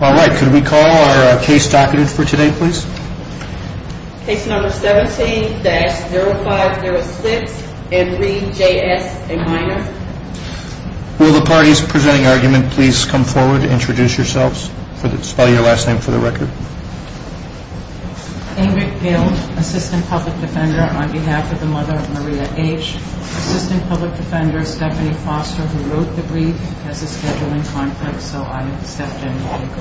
All right, could we call our case document for today, please? Case number 17-0506 and re J.S. a minor. Will the parties presenting argument please come forward and introduce yourselves? Spell your last name for the record. Ingrid Gild, assistant public defender on behalf of the mother of Maria H. Assistant public defender Stephanie Foster, who wrote the brief, has a schedule in conflict, so I'm Stephanie Foster.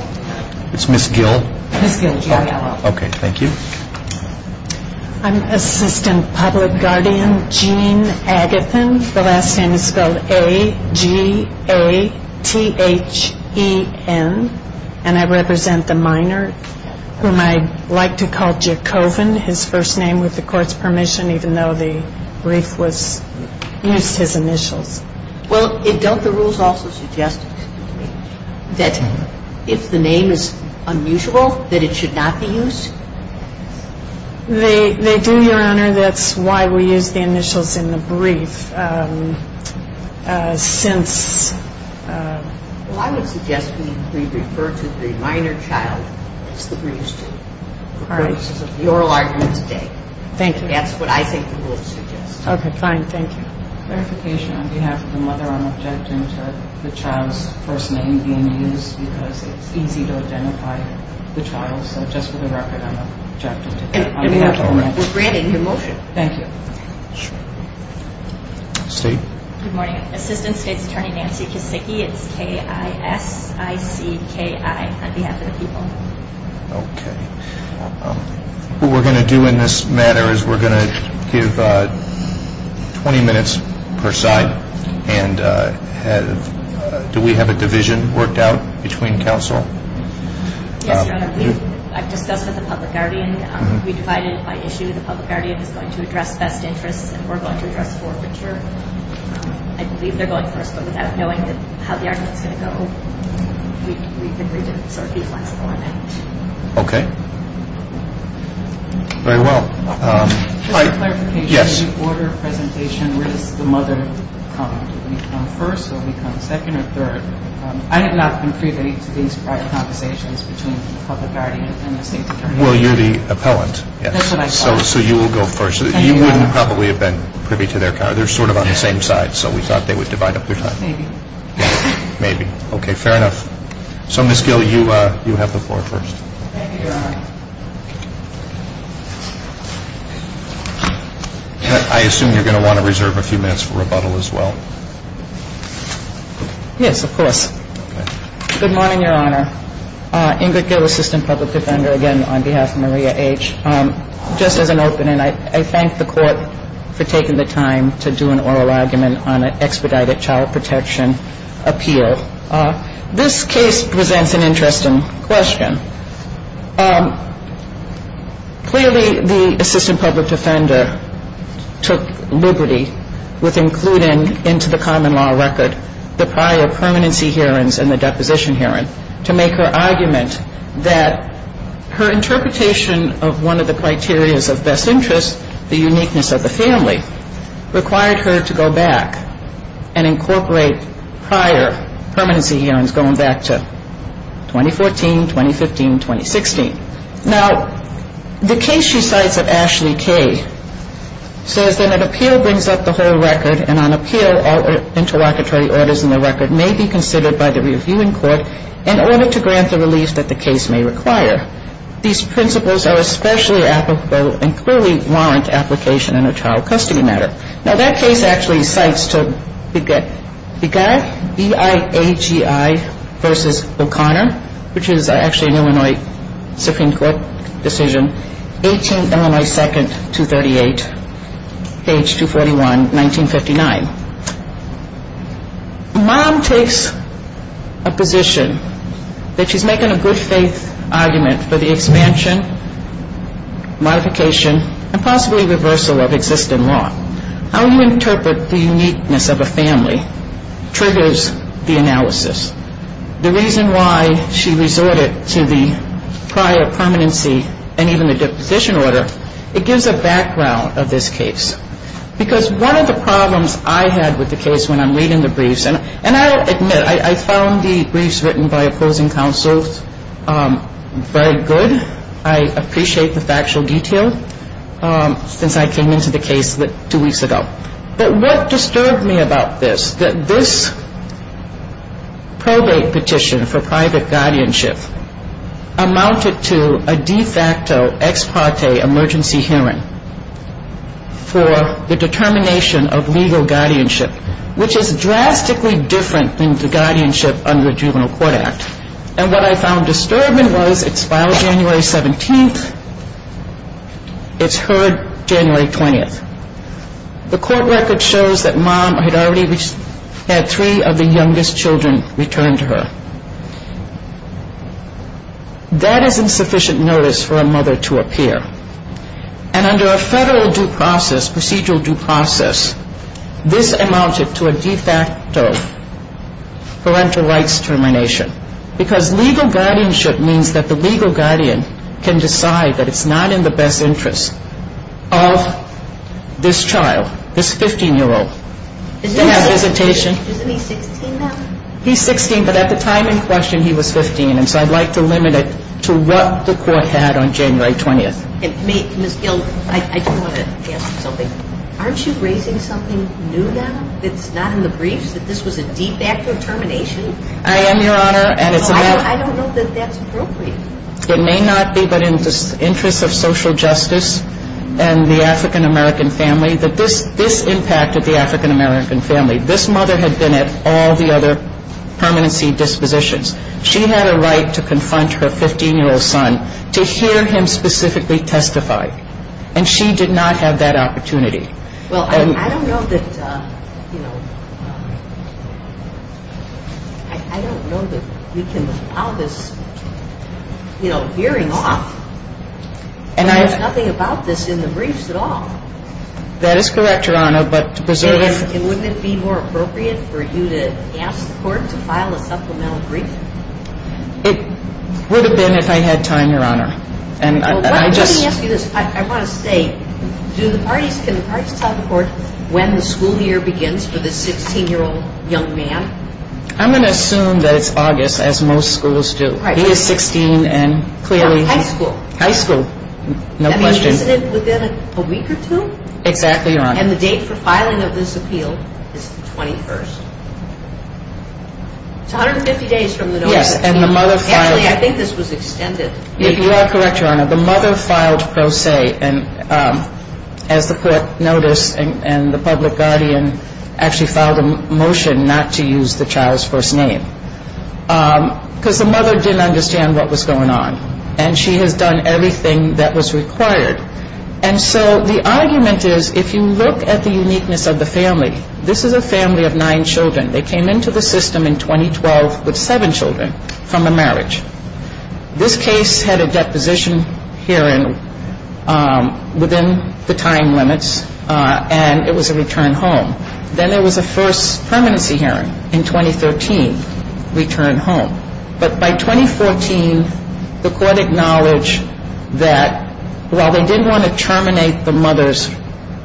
It's Ms. Gild? Ms. Gild, G-I-L-D. Okay, thank you. I'm assistant public guardian Jean Agathon. The last name is spelled A-G-A-T-H-E-N. And I represent the minor whom I'd like to call Jacobin, his first name with the court's permission, even though the brief used his initials. Well, don't the rules also suggest, excuse me, that if the name is unusual, that it should not be used? They do, Your Honor. That's why we use the initials in the brief since... Well, I would suggest we refer to the minor child as the brief student. All right. That's the oral argument today. Thank you. That's what I think the rules suggest. Okay, fine. Thank you. Verification on behalf of the mother, I'm objecting to the child's first name being used because it's easy to identify the child. So just for the record, I'm objecting to that. On behalf of the mother... We're granting your motion. Thank you. Sure. State? Good morning. Assistant State's Attorney Nancy Kisicki. It's K-I-S-I-C-K-I on behalf of the people. Okay. What we're going to do in this matter is we're going to give 20 minutes per side and do we have a division worked out between counsel? Yes, Your Honor. I've discussed with the public guardian. We've divided it by issue. The public guardian is going to address best interests and we're going to address forfeiture. I believe they're going first, but without knowing how the argument's going to go, we've agreed to sort of be flexible on that. Okay. Very well. Just a clarification. When you order a presentation, where does the mother come? Do they come first? Do they come second or third? I have not been privy to these private conversations between the public guardian and the State's Attorney. Well, you're the appellant. That's what I thought. So you will go first. You wouldn't probably have been privy to their... They're sort of on the same side, so we thought they would divide up their time. Maybe. Maybe. Okay, fair enough. So, Ms. Gill, you have the floor first. Thank you, Your Honor. I assume you're going to want to reserve a few minutes for rebuttal as well. Yes, of course. Good morning, Your Honor. Ingrid Gill, Assistant Public Defender, again, on behalf of Maria H. Just as an opening, I thank the Court for taking the time to do an oral argument on an expedited child protection appeal. This case presents an interesting question. Clearly, the Assistant Public Defender took liberty with including into the common law record the prior permanency hearings and the deposition hearing to make her argument that her interpretation of one of the criterias of best interest, the uniqueness of the family, required her to go back and incorporate prior permanency hearings going back to 2014, 2015, 2016. Now, the case she cites of Ashley K. says that an appeal brings up the whole record and on appeal, all interlocutory orders in the record may be considered by the reviewing court in order to grant the relief that the case may require. These principles are especially applicable and clearly warrant application in a child custody matter. Now, that case actually cites to Beguy, B-I-A-G-I versus O'Connor, which is actually an Illinois Supreme Court decision, 18th Illinois 2nd, 238, page 241, 1959. Mom takes a position that she's making a good faith argument for the expansion, modification, and possibly reversal of existing law. How you interpret the uniqueness of a family triggers the analysis. The reason why she resorted to the prior permanency and even the deposition order, it gives a background of this case. Because one of the problems I had with the case when I'm reading the briefs, and I'll admit I found the briefs written by opposing counsels very good. I appreciate the factual detail since I came into the case two weeks ago. But what disturbed me about this, that this probate petition for private guardianship amounted to a de facto ex parte emergency hearing for the determination of legal guardianship, which is drastically different than the guardianship under a juvenile court act. And what I found disturbing was it's filed January 17th. It's heard January 20th. The court record shows that mom had already had three of the youngest children return to her. That is insufficient notice for a mother to appear. And under a federal due process, procedural due process, this amounted to a de facto parental rights termination. Because legal guardianship means that the legal guardian can decide that it's not in the best interest of this child, this 15-year-old, to have visitation. Isn't he 16 now? He's 16, but at the time in question he was 15. And so I'd like to limit it to what the court had on January 20th. Ms. Gill, I do want to ask you something. Aren't you raising something new now that's not in the briefs, that this was a de facto termination? I am, Your Honor. I don't know that that's appropriate. It may not be, but in the interest of social justice and the African-American family, that this impacted the African-American family. This mother had been at all the other permanency dispositions. She had a right to confront her 15-year-old son, to hear him specifically testify. And she did not have that opportunity. Well, I don't know that, you know, I don't know that you can allow this, you know, hearing off. And there's nothing about this in the briefs at all. That is correct, Your Honor. And wouldn't it be more appropriate for you to ask the court to file a supplemental brief? It would have been if I had time, Your Honor. Well, let me ask you this. I want to say, can the parties tell the court when the school year begins for this 16-year-old young man? I'm going to assume that it's August, as most schools do. He is 16, and clearly. High school. High school, no question. I mean, isn't it within a week or two? Exactly, Your Honor. And the date for filing of this appeal is the 21st. It's 150 days from the notice. Yes, and the mother filed. Actually, I think this was extended. You are correct, Your Honor. The mother filed pro se, and as the court noticed, and the public guardian actually filed a motion not to use the child's first name. Because the mother didn't understand what was going on. And she has done everything that was required. And so the argument is, if you look at the uniqueness of the family, this is a family of nine children. They came into the system in 2012 with seven children from a marriage. This case had a deposition hearing within the time limits, and it was a return home. Then there was a first permanency hearing in 2013, return home. But by 2014, the court acknowledged that while they didn't want to terminate the mother's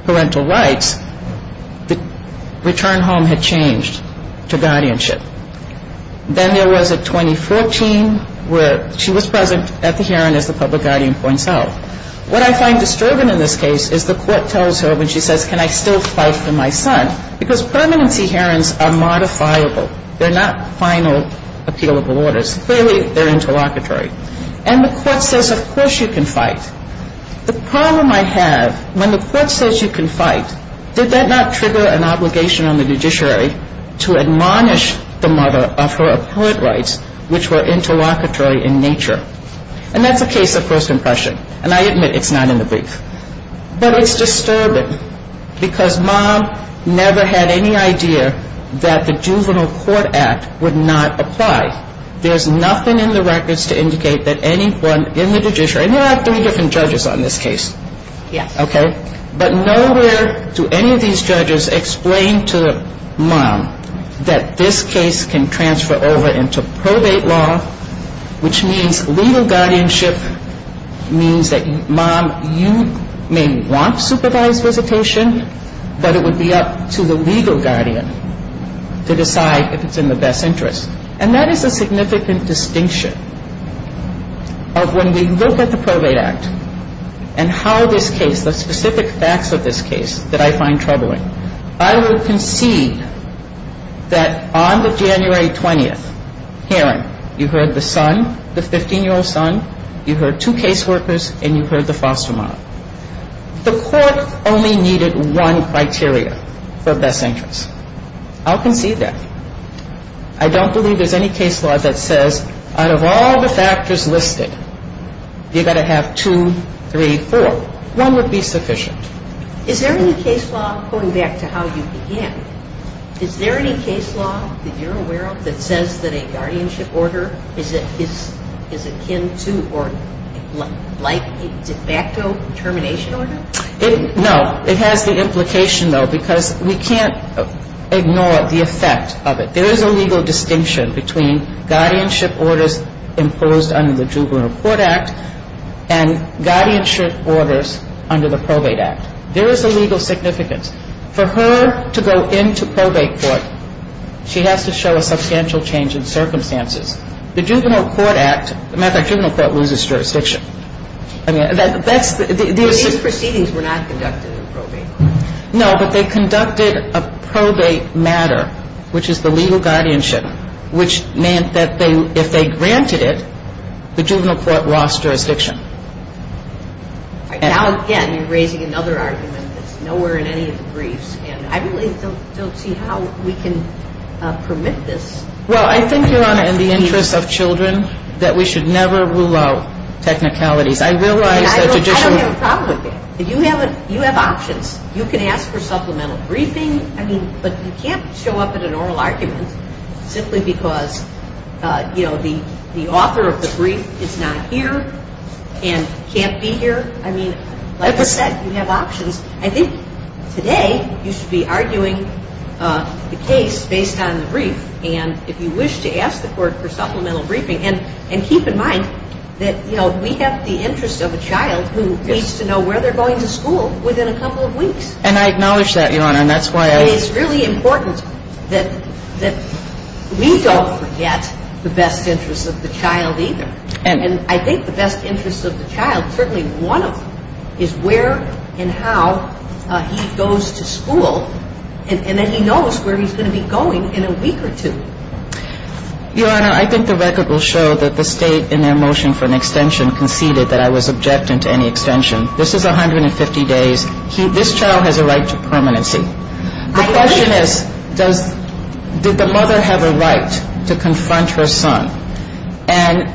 parental rights, the return home had changed to guardianship. Then there was a 2014 where she was present at the hearing, as the public guardian points out. What I find disturbing in this case is the court tells her when she says, can I still fight for my son? Because permanency hearings are modifiable. They're not final appealable orders. Clearly, they're interlocutory. And the court says, of course you can fight. The problem I have, when the court says you can fight, did that not trigger an obligation on the judiciary to admonish the mother of her apparent rights, which were interlocutory in nature? And that's a case of first impression. And I admit it's not in the brief. But it's disturbing because Mom never had any idea that the juvenile court act would not apply. There's nothing in the records to indicate that anyone in the judiciary, and there are three different judges on this case. Yes. Okay? But nowhere do any of these judges explain to Mom that this case can transfer over into probate law, which means legal guardianship means that, Mom, you may want supervised visitation, but it would be up to the legal guardian to decide if it's in the best interest. And that is a significant distinction of when we look at the Probate Act and how this case, the specific facts of this case that I find troubling. I would concede that on the January 20th hearing, you heard the son, the 15-year-old son, you heard two caseworkers, and you heard the foster mom. The court only needed one criteria for best interest. I'll concede that. I don't believe there's any case law that says out of all the factors listed, you've got to have two, three, four. One would be sufficient. Is there any case law, going back to how you began, is there any case law that you're aware of that says that a guardianship order is akin to or like a de facto termination order? No. It has the implication, though, because we can't ignore the effect of it. There is a legal distinction between guardianship orders imposed under the Juvenile Court Act and guardianship orders under the Probate Act. There is a legal significance. For her to go into probate court, she has to show a substantial change in circumstances. The Juvenile Court Act, matter of fact, the Juvenile Court loses jurisdiction. These proceedings were not conducted in probate court. No, but they conducted a probate matter, which is the legal guardianship, which meant that if they granted it, the Juvenile Court lost jurisdiction. Now, again, you're raising another argument that's nowhere in any of the briefs, and I really don't see how we can permit this. Well, I think, Your Honor, in the interest of children, that we should never rule out technicalities. I realize that judicial ---- I don't have a problem with that. You have options. You can ask for supplemental briefing, but you can't show up at an oral argument simply because, you know, the author of the brief is not here and can't be here. I mean, like I said, you have options. I think today you should be arguing the case based on the brief, and if you wish to ask the court for supplemental briefing, and keep in mind that, you know, we have the interest of a child who needs to know where they're going to school within a couple of weeks. And I acknowledge that, Your Honor, and that's why I ---- It's really important that we don't forget the best interests of the child either. And I think the best interests of the child, certainly one of them, is where and how he goes to school, and that he knows where he's going to be going in a week or two. Your Honor, I think the record will show that the State, in their motion for an extension, conceded that I was objecting to any extension. This is 150 days. This child has a right to permanency. The question is, did the mother have a right to confront her son? And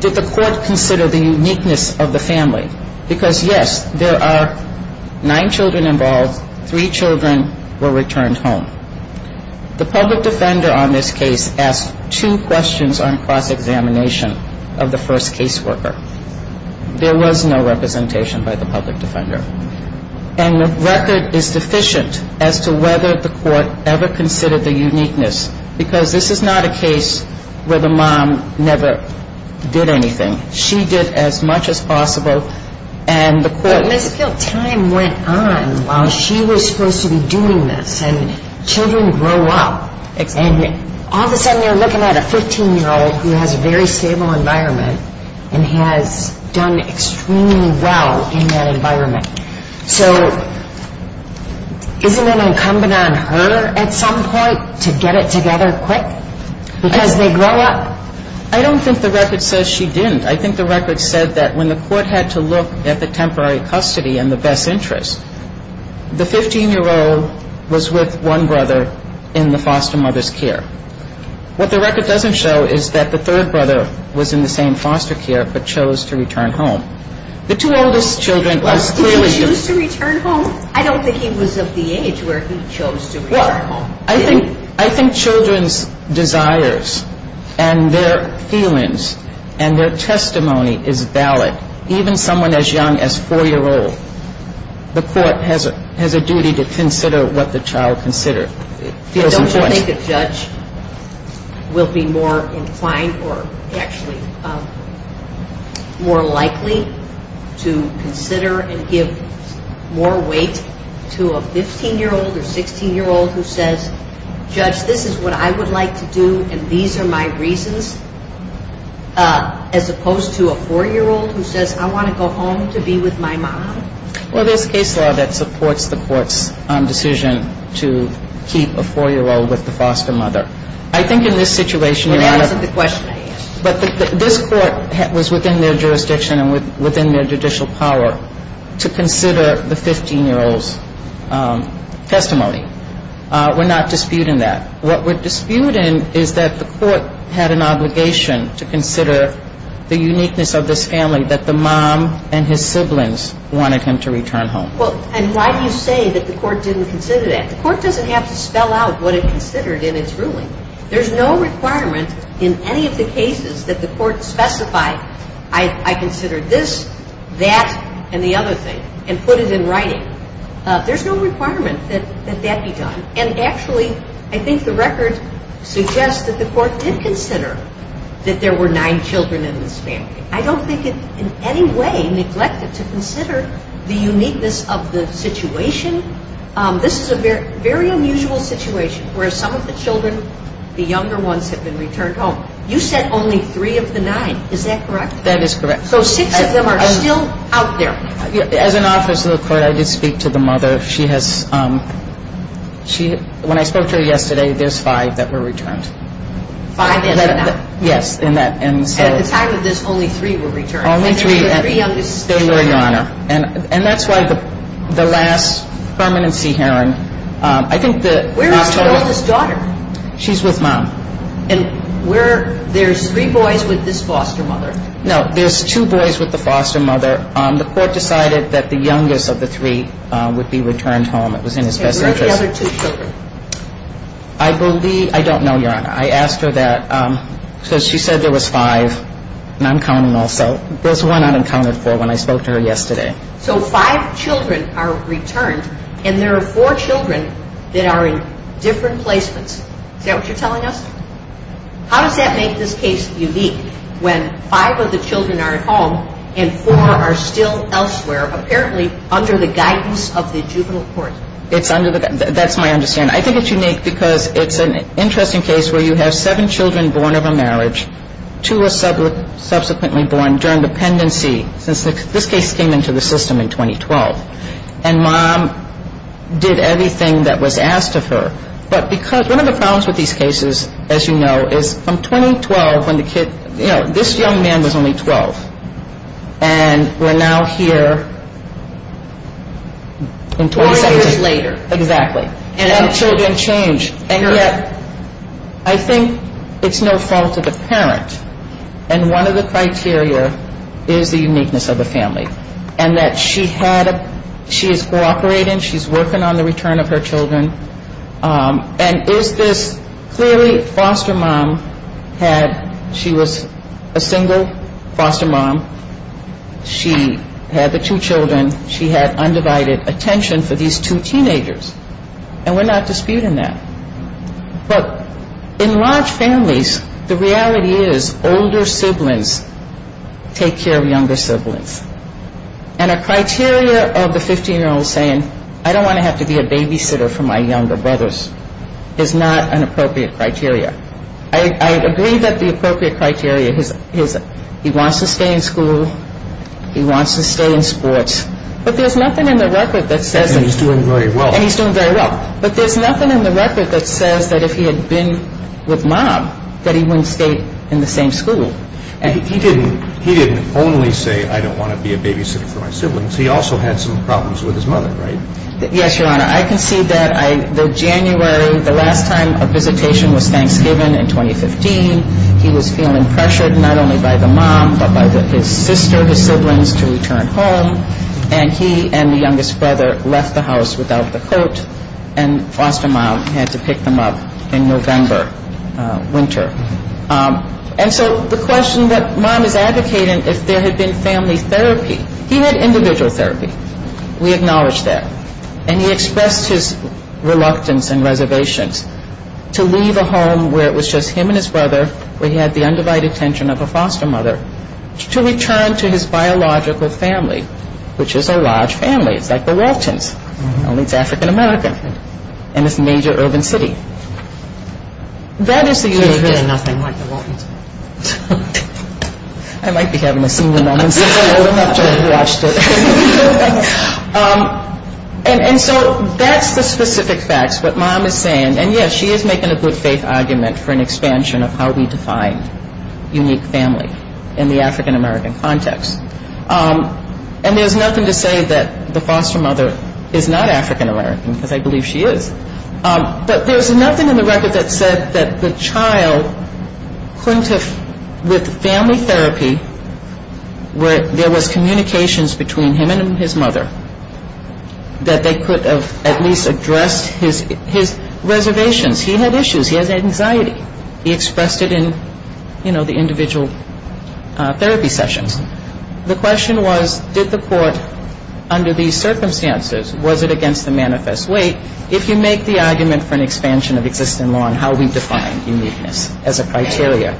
did the court consider the uniqueness of the family? Because, yes, there are nine children involved, three children were returned home. The public defender on this case asked two questions on cross-examination of the first caseworker. There was no representation by the public defender. And the record is deficient as to whether the court ever considered the uniqueness because this is not a case where the mom never did anything. She did as much as possible, and the court ---- But, Ms. Gill, time went on while she was supposed to be doing this, and children grow up. Exactly. And all of a sudden you're looking at a 15-year-old who has a very stable environment and has done extremely well in that environment. So isn't it incumbent on her at some point to get it together quick because they grow up? I don't think the record says she didn't. I think the record said that when the court had to look at the temporary custody and the best interest, the 15-year-old was with one brother in the foster mother's care. What the record doesn't show is that the third brother was in the same foster care but chose to return home. The two oldest children was clearly ---- Well, did he choose to return home? I don't think he was of the age where he chose to return home. Well, I think children's desires and their feelings and their testimony is valid. Even someone as young as 4-year-old, the court has a duty to consider what the child considered. I don't think a judge will be more inclined or actually more likely to consider and give more weight to a 15-year-old or 16-year-old who says, Judge, this is what I would like to do and these are my reasons, as opposed to a 4-year-old who says, I want to go home to be with my mom. Well, there's case law that supports the court's decision to keep a 4-year-old with the foster mother. I think in this situation ---- Let me answer the question. But this court was within their jurisdiction and within their judicial power to consider the 15-year-old's testimony. We're not disputing that. What we're disputing is that the court had an obligation to consider the uniqueness of this family that the mom and his siblings wanted him to return home. Well, and why do you say that the court didn't consider that? The court doesn't have to spell out what it considered in its ruling. There's no requirement in any of the cases that the court specified, I consider this, that, and the other thing and put it in writing. There's no requirement that that be done. And actually, I think the record suggests that the court did consider that there were nine children in this family. I don't think it in any way neglected to consider the uniqueness of the situation. This is a very unusual situation where some of the children, the younger ones, have been returned home. You said only three of the nine. Is that correct? That is correct. So six of them are still out there. As an officer of the court, I did speak to the mother. When I spoke to her yesterday, there's five that were returned. Five in that? Yes. And at the time of this, only three were returned. Only three. And there were three youngest children. They were, Your Honor. And that's why the last permanency hearing, I think the... Where is the oldest daughter? She's with Mom. And where... there's three boys with this foster mother. No, there's two boys with the foster mother. The court decided that the youngest of the three would be returned home. It was in his best interest. And where are the other two children? I believe... I don't know, Your Honor. I asked her that because she said there was five. And I'm counting also. There's one unaccounted for when I spoke to her yesterday. So five children are returned. And there are four children that are in different placements. Is that what you're telling us? How does that make this case unique when five of the children are at home and four are still elsewhere, apparently under the guidance of the juvenile court? It's under the... That's my understanding. And I think it's unique because it's an interesting case where you have seven children born of a marriage, two are subsequently born during dependency, since this case came into the system in 2012. And Mom did everything that was asked of her. But because... one of the problems with these cases, as you know, is from 2012 when the kid... you know, this young man was only 12. And we're now here... 20 years later. Exactly. And the children change. And yet I think it's no fault of the parent. And one of the criteria is the uniqueness of the family. And that she had... she is cooperating. She's working on the return of her children. And is this... clearly foster mom had... she was a single foster mom. She had the two children. She had undivided attention for these two teenagers. And we're not disputing that. But in large families, the reality is older siblings take care of younger siblings. And a criteria of the 15-year-old saying, I don't want to have to be a babysitter for my younger brothers, is not an appropriate criteria. I agree that the appropriate criteria is he wants to stay in school, he wants to stay in sports. But there's nothing in the record that says... And he's doing very well. And he's doing very well. But there's nothing in the record that says that if he had been with mom, that he wouldn't stay in the same school. He didn't only say, I don't want to be a babysitter for my siblings. He also had some problems with his mother, right? Yes, Your Honor. I can see that the January, the last time a visitation was Thanksgiving in 2015, he was feeling pressured not only by the mom, but by his sister, his siblings, to return home. And he and the youngest brother left the house without the coat. And foster mom had to pick them up in November, winter. And so the question that mom is advocating, if there had been family therapy... He had individual therapy. We acknowledge that. And he expressed his reluctance and reservations to leave a home where it was just him and his brother, where he had the undivided attention of a foster mother, to return to his biological family, which is a large family. It's like the Waltons, only it's African-American. And it's a major urban city. That is the... There's really nothing like the Waltons. I might be having a senior moment sitting over there after I've watched it. And so that's the specific facts, what mom is saying. And, yes, she is making a good faith argument for an expansion of how we define unique family in the African-American context. And there's nothing to say that the foster mother is not African-American, because I believe she is. But there's nothing in the record that said that the child couldn't have, with family therapy, where there was communications between him and his mother, that they could have at least addressed his reservations. He had issues. He had anxiety. He expressed it in, you know, the individual therapy sessions. The question was, did the court, under these circumstances, was it against the manifest weight, if you make the argument for an expansion of existing law and how we define uniqueness as a criteria,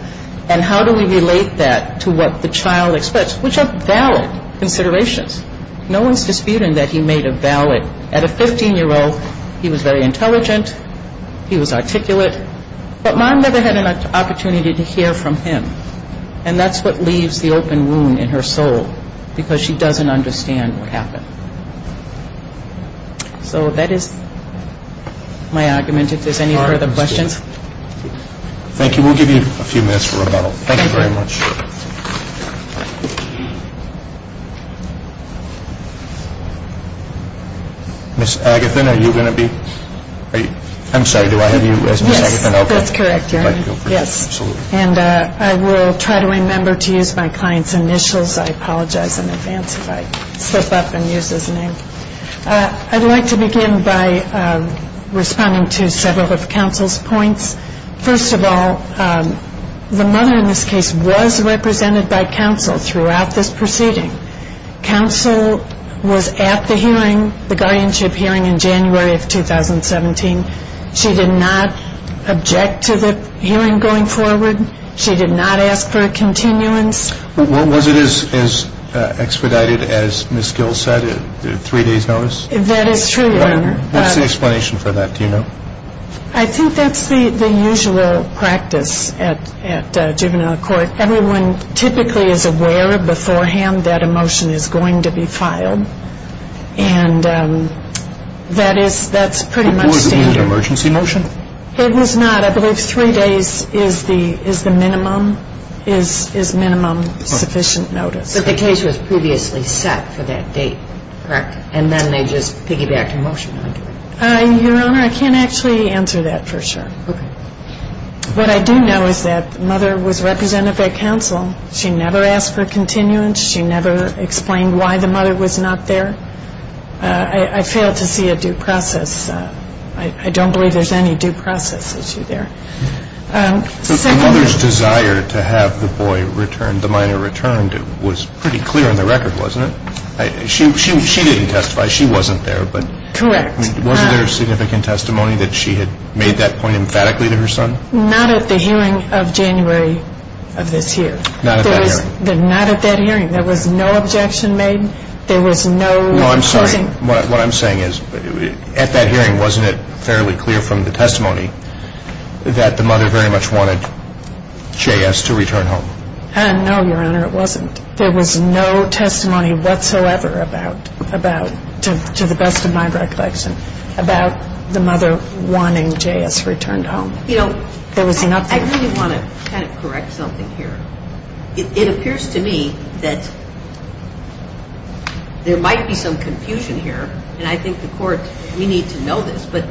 and how do we relate that to what the child expressed, which are valid considerations. No one is disputing that he made a valid. At a 15-year-old, he was very intelligent. He was articulate. But mom never had an opportunity to hear from him. And that's what leaves the open wound in her soul, because she doesn't understand what happened. So that is my argument, if there's any further questions. Thank you. We'll give you a few minutes for rebuttal. Thank you very much. Ms. Agathon, are you going to be? I'm sorry, do I have you as Ms. Agathon? Yes, that's correct, Your Honor. Thank you. Yes. Absolutely. And I will try to remember to use my client's initials. I apologize in advance if I slip up and use his name. I'd like to begin by responding to several of counsel's points. First of all, the mother in this case was represented by counsel throughout this proceeding. Counsel was at the hearing, the guardianship hearing, in January of 2017. She did not object to the hearing going forward. She did not ask for a continuance. Was it as expedited as Ms. Gill said, three days notice? That is true, Your Honor. What's the explanation for that? Do you know? I think that's the usual practice at juvenile court. Everyone typically is aware beforehand that a motion is going to be filed, and that's pretty much standard. It wasn't an emergency motion? It was not. I believe three days is the minimum, is minimum sufficient notice. But the case was previously set for that date, correct? And then they just piggybacked a motion onto it. Your Honor, I can't actually answer that for sure. Okay. What I do know is that the mother was represented by counsel. She never asked for a continuance. She never explained why the mother was not there. I failed to see a due process. I don't believe there's any due process issue there. The mother's desire to have the boy returned, the minor returned, was pretty clear on the record, wasn't it? She didn't testify. She wasn't there. Correct. Wasn't there significant testimony that she had made that point emphatically to her son? Not at the hearing of January of this year. Not at that hearing. Not at that hearing. There was no objection made. There was no accusing. Well, I'm sorry. What I'm saying is at that hearing, wasn't it fairly clear from the testimony that the mother very much wanted J.S. to return home? No, Your Honor, it wasn't. There was no testimony whatsoever about, to the best of my recollection, about the mother wanting J.S. returned home. You know, I really want to kind of correct something here. It appears to me that there might be some confusion here, and I think the Court, we need to know this, but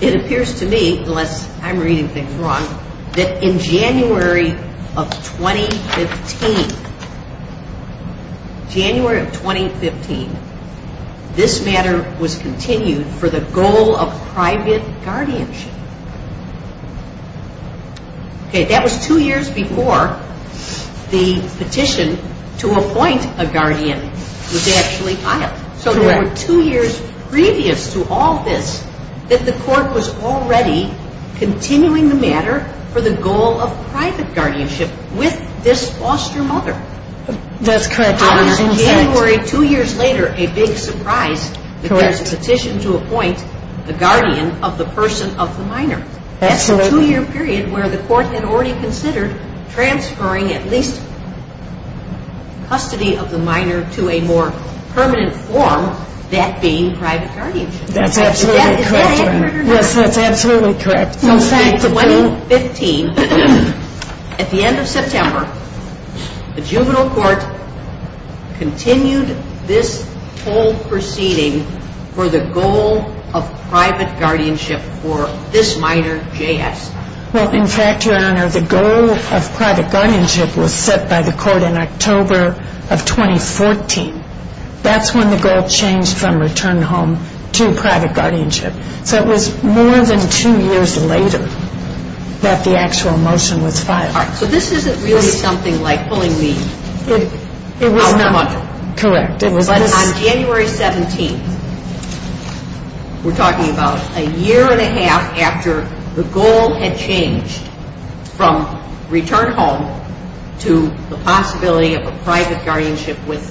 it appears to me, unless I'm reading things wrong, that in January of 2015, January of 2015, this matter was continued for the goal of private guardianship. Okay, that was two years before the petition to appoint a guardian was actually filed. Correct. So there were two years previous to all this that the Court was already continuing the matter for the goal of private guardianship with this foster mother. That's correct, Your Honor. How is January two years later a big surprise that there's a petition to appoint the guardian of the person of the minor? Well, in fact, Your Honor, the goal of private guardianship was set by the Court in October of 2014. That's when the goal of private guardianship was set. from return home to private guardianship. So it was more than two years later that the actual motion was filed. All right. So this isn't really something like pulling the out of the mudder. Correct. But on January 17th, we're talking about a year and a half after the goal had changed from return home to the possibility of a private guardianship with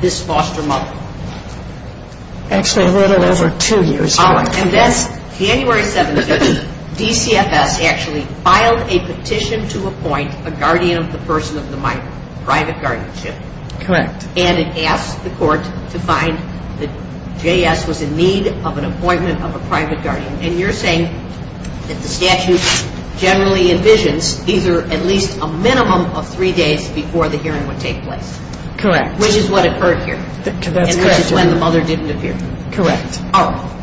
this foster mother. Actually, I wrote it over two years ago. And that's January 17th. DCFS actually filed a petition to appoint a guardian of the person of the minor, private guardianship. Correct. And it asked the Court to find that JS was in need of an appointment of a private guardian. And you're saying that the statute generally envisions either at least a minimum of three days before the hearing would take place. Correct. Which is what occurred here. That's correct. And which is when the mother didn't appear. Correct. All right.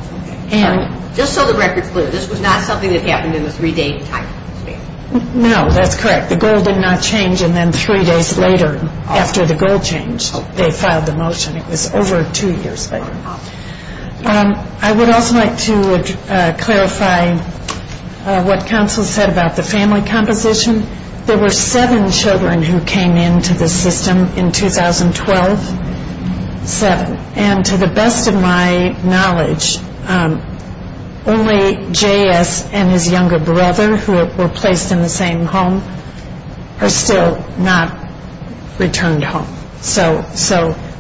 And just so the record's clear, this was not something that happened in the three-day time span. No, that's correct. The goal did not change. And then three days later, after the goal changed, they filed the motion. It was over two years later. I would also like to clarify what counsel said about the family composition. There were seven children who came into the system in 2012. Seven. And to the best of my knowledge, only JS and his younger brother, who were placed in the same home, are still not returned home. So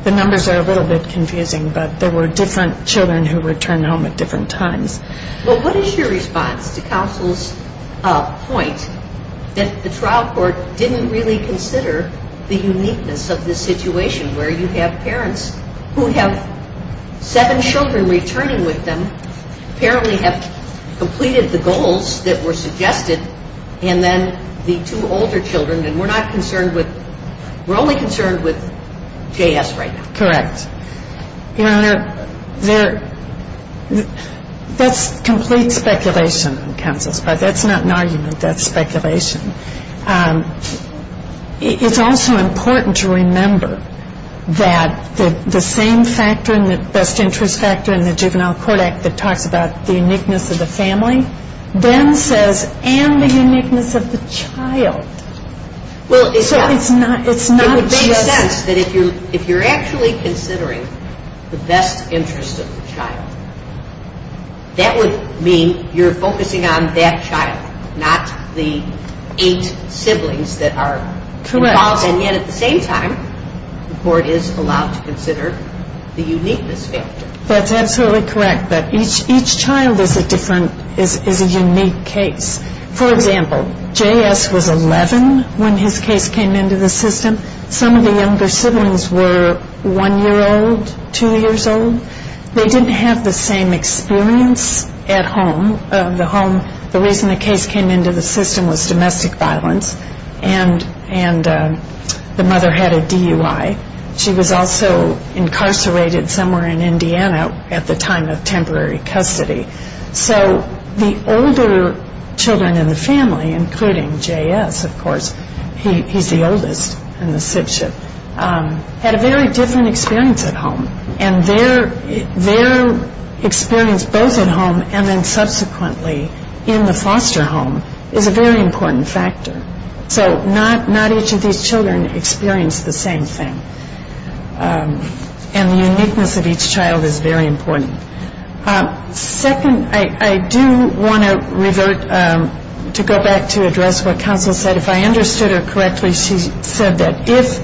the numbers are a little bit confusing, but there were different children who returned home at different times. Well, what is your response to counsel's point that the trial court didn't really consider the uniqueness of this situation, where you have parents who have seven children returning with them, apparently have completed the goals that were suggested, and then the two older children. And we're not concerned with ‑‑ we're only concerned with JS right now. Correct. Your Honor, there ‑‑ that's complete speculation on counsel's part. That's not an argument. That's speculation. It's also important to remember that the same factor and the best interest factor in the Juvenile Court Act that talks about the uniqueness of the family then says, and the uniqueness of the child. So it's not ‑‑ It would make sense that if you're actually considering the best interest of the child, that would mean you're focusing on that child, not the eight siblings that are involved. Correct. And yet at the same time, the court is allowed to consider the uniqueness factor. That's absolutely correct. But each child is a different ‑‑ is a unique case. For example, JS was 11 when his case came into the system. Some of the younger siblings were one year old, two years old. They didn't have the same experience at home. The reason the case came into the system was domestic violence, and the mother had a DUI. She was also incarcerated somewhere in Indiana at the time of temporary custody. So the older children in the family, including JS, of course, he's the oldest in the sibship, had a very different experience at home. And their experience both at home and then subsequently in the foster home is a very important factor. So not each of these children experienced the same thing. And the uniqueness of each child is very important. Second, I do want to revert to go back to address what counsel said. If I understood her correctly, she said that if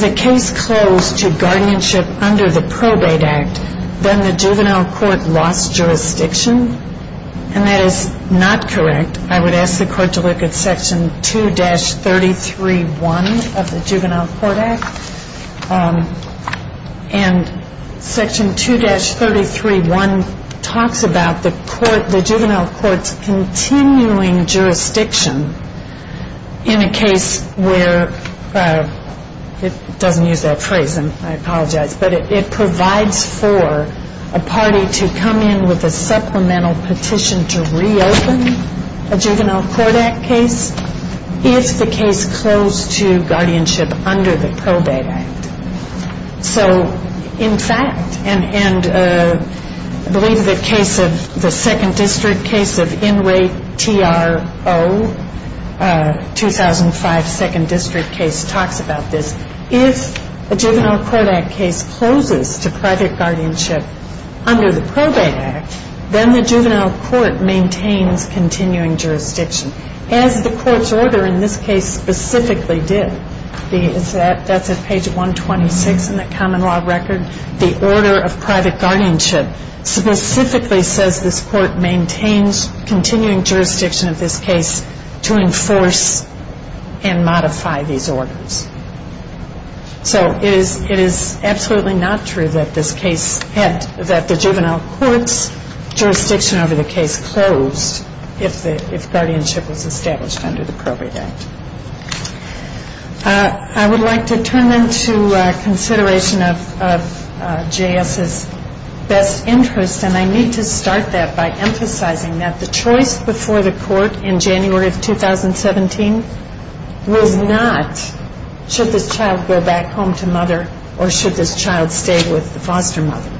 the case closed to guardianship under the Probate Act, then the juvenile court lost jurisdiction. And that is not correct. I would ask the court to look at Section 2‑33.1 of the Juvenile Court Act. And Section 2‑33.1 talks about the juvenile court's continuing jurisdiction in a case where, it doesn't use that phrase, and I apologize, but it provides for a party to come in with a supplemental petition to reopen a Juvenile Court Act case if the case closed to guardianship under the Probate Act. So, in fact, and I believe the case of the Second District case of Enright, T.R.O., 2005 Second District case talks about this. If a Juvenile Court Act case closes to private guardianship under the Probate Act, then the juvenile court maintains continuing jurisdiction. As the court's order in this case specifically did. That's at page 126 in the common law record. The order of private guardianship specifically says this court maintains continuing jurisdiction of this case to enforce and modify these orders. So it is absolutely not true that the juvenile court's jurisdiction over the case closed if guardianship was established under the Probate Act. I would like to turn then to consideration of J.S.'s best interest, and I need to start that by emphasizing that the choice before the court in January of 2017 was not, should this child go back home to mother or should this child stay with the foster mother?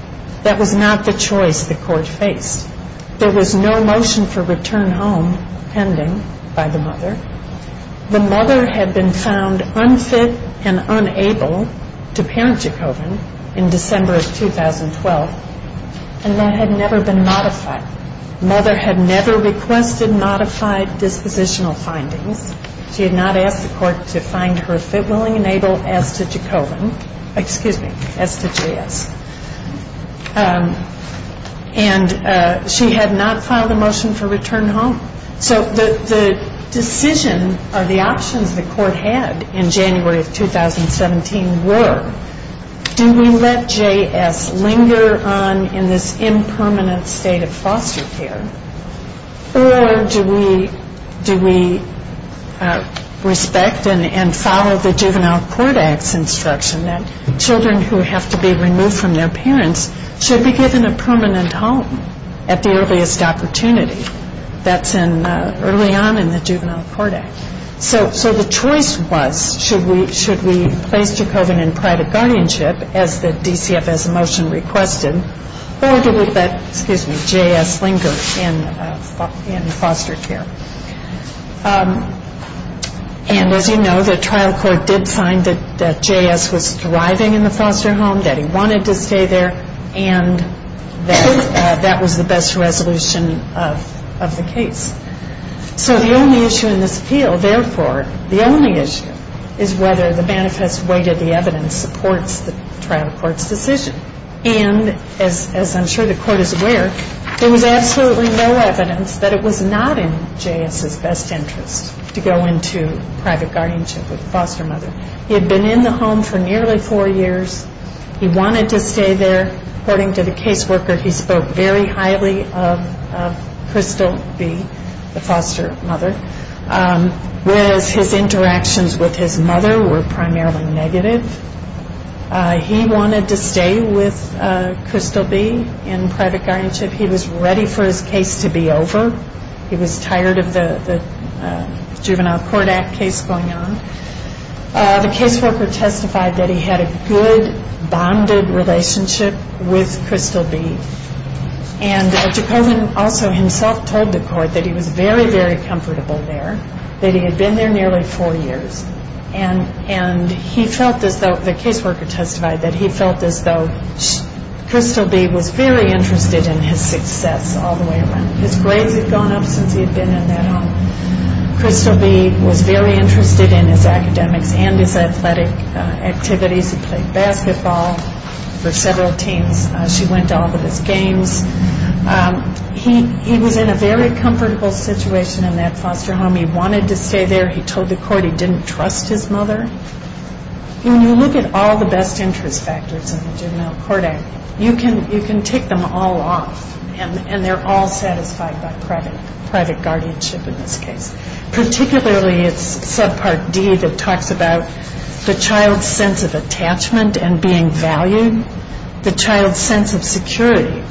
That was not the choice the court faced. There was no motion for return home pending by the mother. The mother had been found unfit and unable to parent Jacobin in December of 2012, and that had never been modified. Mother had never requested modified dispositional findings. She had not asked the court to find her fit, willing, and able as to Jacobin, excuse me, as to J.S. And she had not filed a motion for return home. So the decision or the options the court had in January of 2017 were, do we let J.S. linger on in this impermanent state of foster care, or do we respect and follow the Juvenile Court Act's instruction that children who have to be removed from their parents should be given a permanent home at the earliest opportunity? That's early on in the Juvenile Court Act. So the choice was, should we place Jacobin in private guardianship as the DCFS motion requested, or do we let J.S. linger in foster care? And as you know, the trial court did find that J.S. was thriving in the foster home, that he wanted to stay there, and that that was the best resolution of the case. So the only issue in this appeal, therefore, the only issue, is whether the manifest weight of the evidence supports the trial court's decision. And as I'm sure the court is aware, there was absolutely no evidence that it was not in J.S.'s best interest to go into private guardianship with a foster mother. He had been in the home for nearly four years. He wanted to stay there. According to the caseworker, he spoke very highly of Crystal B., the foster mother, whereas his interactions with his mother were primarily negative. He wanted to stay with Crystal B. in private guardianship. He was ready for his case to be over. He was tired of the Juvenile Court Act case going on. The caseworker testified that he had a good, bonded relationship with Crystal B. And Jacobin also himself told the court that he was very, very comfortable there, that he had been there nearly four years. And the caseworker testified that he felt as though Crystal B. was very interested in his success all the way around. His grades had gone up since he had been in that home. Crystal B. was very interested in his academics and his athletic activities. He played basketball for several teams. She went to all of his games. He was in a very comfortable situation in that foster home. He wanted to stay there. He told the court he didn't trust his mother. When you look at all the best interest factors in the Juvenile Court Act, you can take them all off, and they're all satisfied by private guardianship in this case, particularly its subpart D that talks about the child's sense of attachment and being valued, the child's sense of security,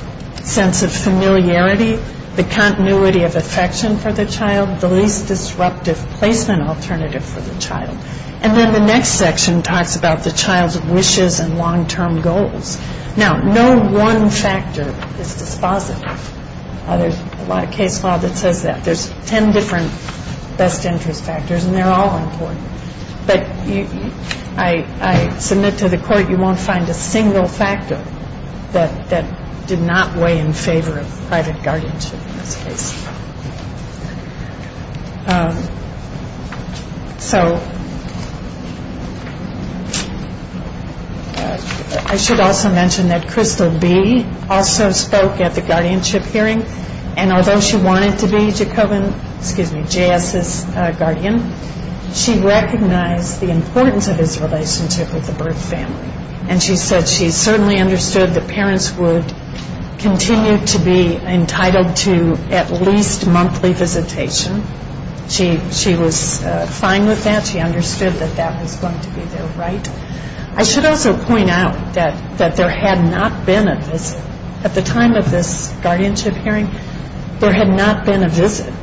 sense of familiarity, the continuity of affection for the child, the least disruptive placement alternative for the child. And then the next section talks about the child's wishes and long-term goals. Now, no one factor is dispositive. There's a lot of case law that says that. There's ten different best interest factors, and they're all important. But I submit to the court you won't find a single factor that did not weigh in favor of private guardianship in this case. I should also mention that Crystal B. also spoke at the guardianship hearing, and although she wanted to be J.S.'s guardian, she recognized the importance of his relationship with the Byrd family, and she said she certainly understood that parents would continue to be entitled to at least monthly visitation. She was fine with that. She understood that that was going to be their right. I should also point out that there had not been a visit. At the time of this guardianship hearing, there had not been a visit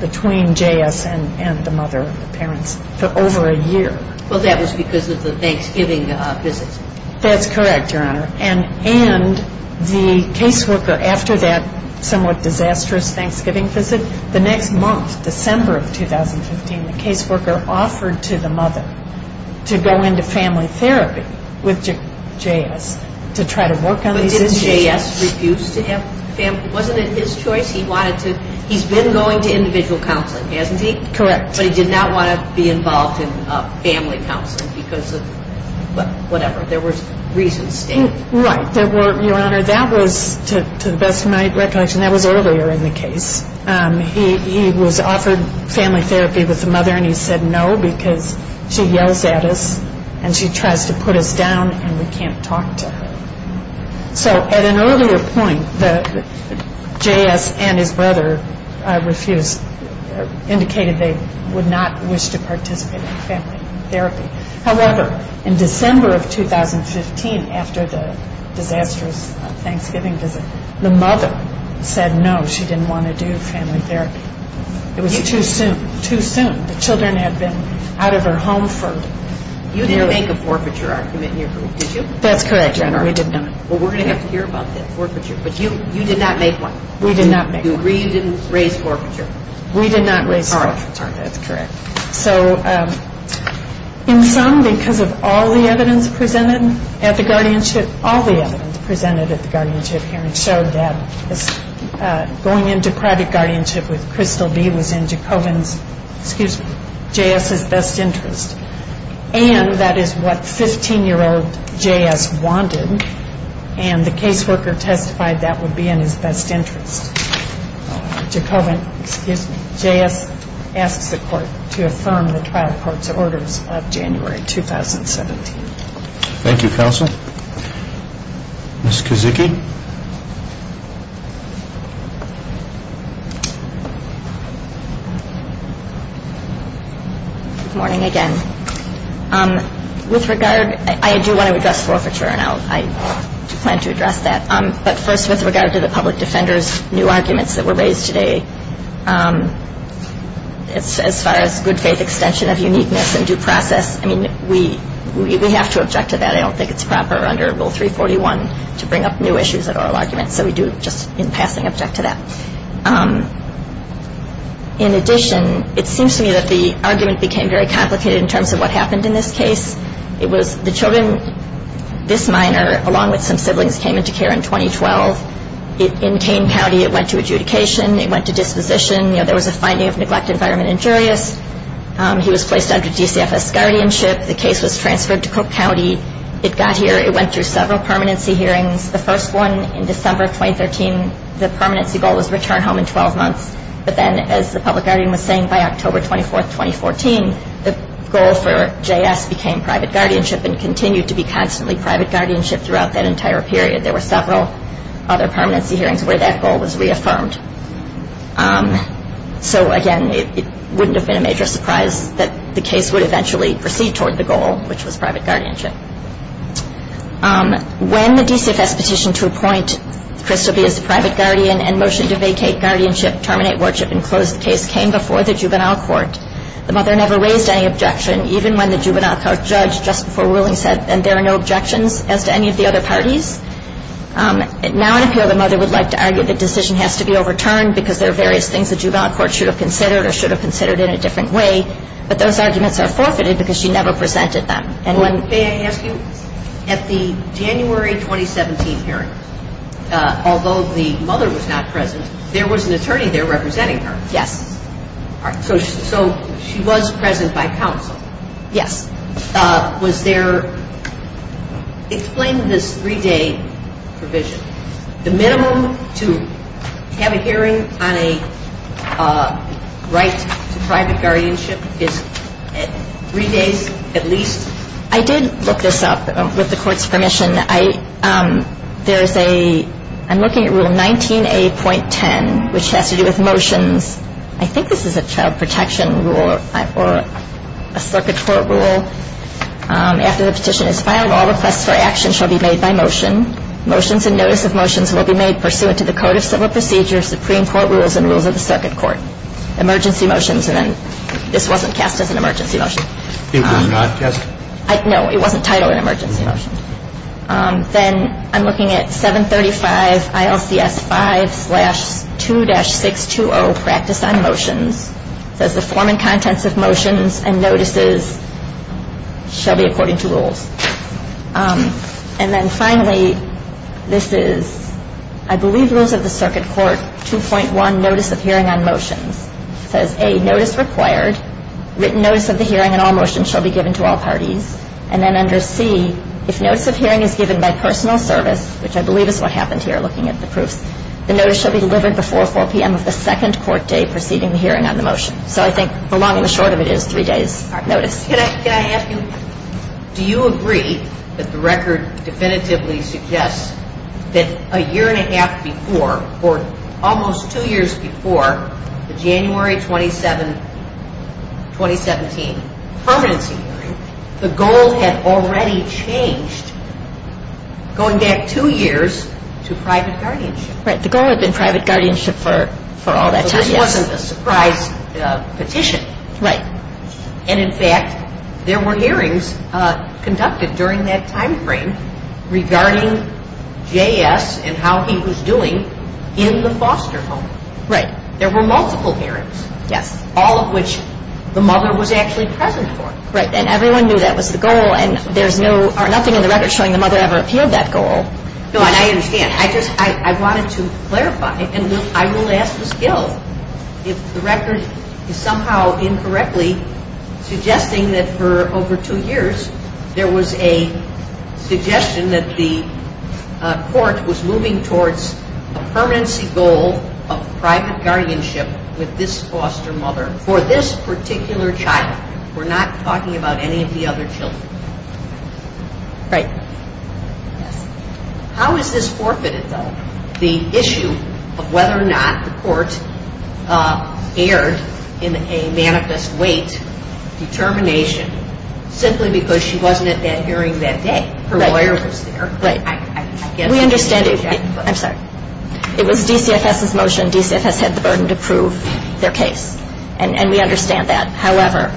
between J.S. and the mother of the parents for over a year. Well, that was because of the Thanksgiving visit. That's correct, Your Honor. And the caseworker, after that somewhat disastrous Thanksgiving visit, the next month, December of 2015, the caseworker offered to the mother to go into family therapy with J.S. to try to work on these issues. But didn't J.S. refuse to have family? Wasn't it his choice? He's been going to individual counseling, hasn't he? Correct. But he did not want to be involved in family counseling because of whatever. There were reasons stated. Right. Your Honor, that was, to the best of my recollection, that was earlier in the case. He was offered family therapy with the mother, and he said no because she yells at us and she tries to put us down and we can't talk to her. So at an earlier point, J.S. and his brother refused, indicated they would not wish to participate in family therapy. However, in December of 2015, after the disastrous Thanksgiving visit, the mother said no, she didn't want to do family therapy. It was too soon. Too soon. The children had been out of her home for... You didn't make a forfeiture argument in your group, did you? That's correct, Your Honor. We did not. Well, we're going to have to hear about that forfeiture. But you did not make one. We did not make one. You agreed you didn't raise forfeiture. We did not raise forfeiture. All right. That's correct. So in sum, because of all the evidence presented at the guardianship, all the evidence presented at the guardianship hearing showed that going into private guardianship with Crystal B. was in Jacobin's, excuse me, J.S.'s best interest. And that is what 15-year-old J.S. wanted, and the caseworker testified that would be in his best interest. Jacobin, excuse me, J.S. asks the court to affirm the trial court's orders of January 2017. Thank you, counsel. Ms. Kozicki? Good morning again. With regard, I do want to address forfeiture, and I do plan to address that. But first, with regard to the public defender's new arguments that were raised today, as far as good faith extension of uniqueness and due process, I mean, we have to object to that. I don't think it's proper under Rule 341 to bring up new issues at oral arguments, so we do just in passing object to that. In addition, it seems to me that the argument became very complicated in terms of what happened in this case. It was the children, this minor, along with some siblings, came into care in 2012. In Kane County, it went to adjudication. It went to disposition. There was a finding of neglect, environment, and injurious. He was placed under DCFS guardianship. The case was transferred to Cook County. It got here. It went through several permanency hearings. The first one in December of 2013, the permanency goal was return home in 12 months. But then, as the public guardian was saying, by October 24, 2014, the goal for JS became private guardianship and continued to be constantly private guardianship throughout that entire period. There were several other permanency hearings where that goal was reaffirmed. So, again, it wouldn't have been a major surprise that the case would eventually proceed toward the goal, which was private guardianship. When the DCFS petition to appoint Crystal B. as the private guardian and motion to vacate guardianship, terminate worship, and close the case came before the juvenile court, the mother never raised any objection, even when the juvenile court judge just before ruling said, and there are no objections as to any of the other parties. Now, in appeal, the mother would like to argue the decision has to be overturned because there are various things the juvenile court should have considered or should have considered in a different way. But those arguments are forfeited because she never presented them. May I ask you, at the January 2017 hearing, although the mother was not present, there was an attorney there representing her. Yes. So she was present by counsel. Yes. Was there – explain this three-day provision. The minimum to have a hearing on a right to private guardianship is three days at least? I did look this up with the court's permission. There is a – I'm looking at Rule 19A.10, which has to do with motions. I think this is a child protection rule or a circuit court rule. After the petition is filed, all requests for action shall be made by motion. Motions and notice of motions will be made pursuant to the code of civil procedure, Supreme Court rules, and rules of the circuit court. And then I'm looking at 735, ILCS 5-2-620, practice on motions. It says the form and contents of motions and notices shall be according to rules. And then finally, this is, I believe, rules of the circuit court, 2.1, notice of hearing on motions. It says, A, notice required. Written notice of the hearing on all motions shall be given to all parties. And then under C, if notice of hearing is given by personal service, which I believe is what happened here looking at the proofs, the notice shall be delivered before 4 p.m. of the second court day preceding the hearing on the motion. So I think the long and the short of it is three days notice. Can I ask you, do you agree that the record definitively suggests that a year and a half before or almost two years before the January 27, 2017, permanency hearing, the goal had already changed going back two years to private guardianship? Right. The goal had been private guardianship for all that time, yes. So this wasn't a surprise petition. Right. And, in fact, there were hearings conducted during that timeframe regarding J.S. and how he was doing in the foster home. Right. There were multiple hearings. Yes. All of which the mother was actually present for. Right. And everyone knew that was the goal. And there's nothing in the record showing the mother ever appealed that goal. No, and I understand. I just wanted to clarify, and I will ask the skill, if the record is somehow incorrectly suggesting that for over two years there was a suggestion that the court was moving towards a permanency goal of private guardianship with this foster mother for this particular child. We're not talking about any of the other children. Right. How is this forfeited, though, the issue of whether or not the court erred in a manifest weight determination simply because she wasn't at that hearing that day? Her lawyer was there. Right. We understand. I'm sorry. It was DCFS's motion. DCFS had the burden to prove their case, and we understand that. However,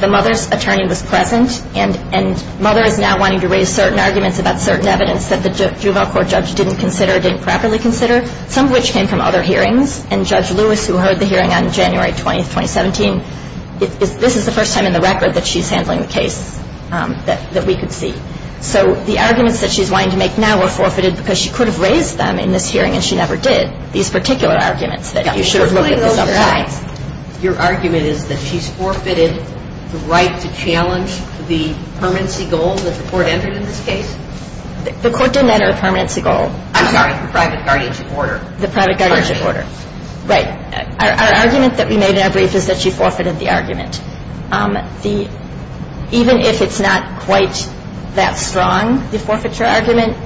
the mother's attorney was present, and mother is now wanting to raise certain arguments about certain evidence that the juvenile court judge didn't consider, didn't properly consider, some of which came from other hearings. And Judge Lewis, who heard the hearing on January 20, 2017, this is the first time in the record that she's handling the case that we could see. So the arguments that she's wanting to make now were forfeited because she could have raised them in this hearing, and she never did. These particular arguments that you should have looked at this other time. Your argument is that she's forfeited the right to challenge the permanency goal that the court entered in this case? The court didn't enter a permanency goal. I'm sorry. The private guardianship order. The private guardianship order. Right. Our argument that we made in our brief is that she forfeited the argument. Even if it's not quite that strong, the forfeiture argument,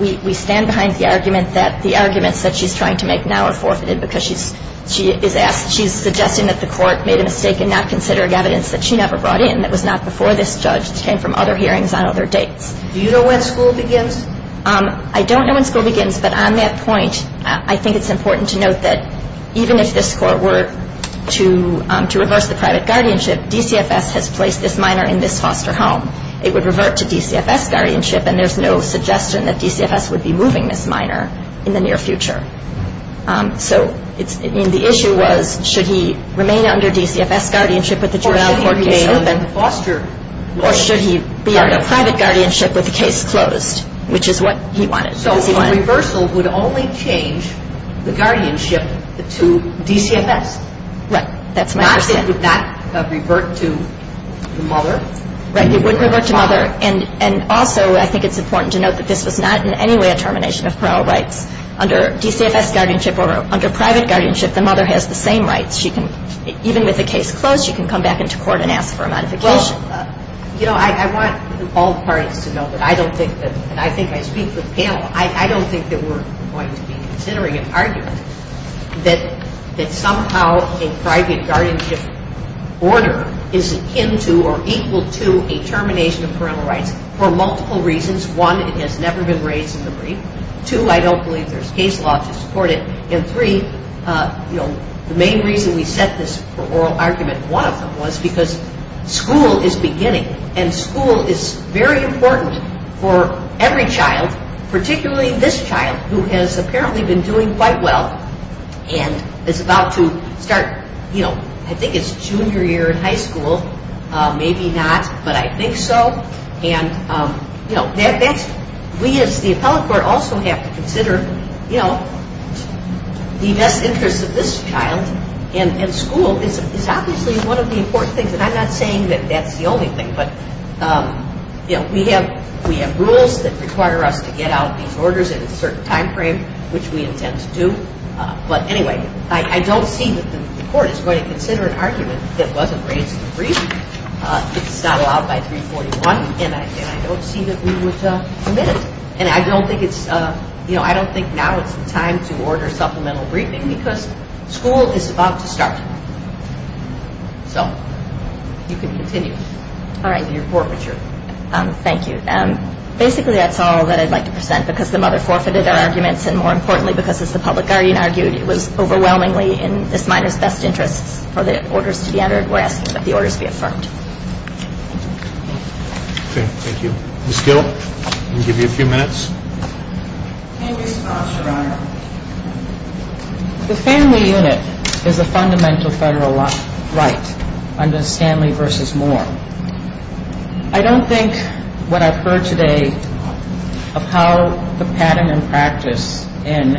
we stand behind the argument that the arguments that she's trying to make now are forfeited because she's suggesting that the court made a mistake in not considering evidence that she never brought in, that was not before this judge. It came from other hearings on other dates. Do you know when school begins? I don't know when school begins, but on that point, I think it's important to note that even if this court were to reverse the private guardianship, DCFS has placed this minor in this foster home. It would revert to DCFS guardianship, and there's no suggestion that DCFS would be moving this minor in the near future. So the issue was should he remain under DCFS guardianship with the juvenile court case open, or should he be under private guardianship with the case closed, which is what he wanted. So a reversal would only change the guardianship to DCFS. Right. That's my understanding. It would not revert to the mother. Right. It wouldn't revert to mother. And also I think it's important to note that this was not in any way a termination of parole rights. Under DCFS guardianship or under private guardianship, the mother has the same rights. Even with the case closed, she can come back into court and ask for a modification. You know, I want all parties to know that I don't think that, and I think I speak for the panel, I don't think that we're going to be considering an argument that somehow a private guardianship order is akin to or equal to a termination of parole rights for multiple reasons. One, it has never been raised in the brief. Two, I don't believe there's case law to support it. And three, you know, the main reason we set this for oral argument, one of them, was because school is beginning and school is very important for every child, particularly this child who has apparently been doing quite well and is about to start, you know, I think it's junior year in high school, maybe not, but I think so. And, you know, we as the appellate court also have to consider, you know, the best interest of this child in school is obviously one of the important things. And I'm not saying that that's the only thing. But, you know, we have rules that require us to get out these orders in a certain time frame, which we intend to do. But anyway, I don't see that the court is going to consider an argument that wasn't raised in the brief. It's not allowed by 341, and I don't see that we would omit it. And I don't think it's, you know, I don't think now it's the time to order supplemental briefing because school is about to start. So you can continue in your forfeiture. Thank you. Basically, that's all that I'd like to present because the mother forfeited her arguments, and more importantly because, as the public guardian argued, it was overwhelmingly in this minor's best interests for the orders to be entered. We're asking that the orders be affirmed. Okay, thank you. Ms. Gill, I'll give you a few minutes. In response, Your Honor, the family unit is a fundamental federal right under Stanley v. Moore. I don't think what I've heard today of how the pattern and practice in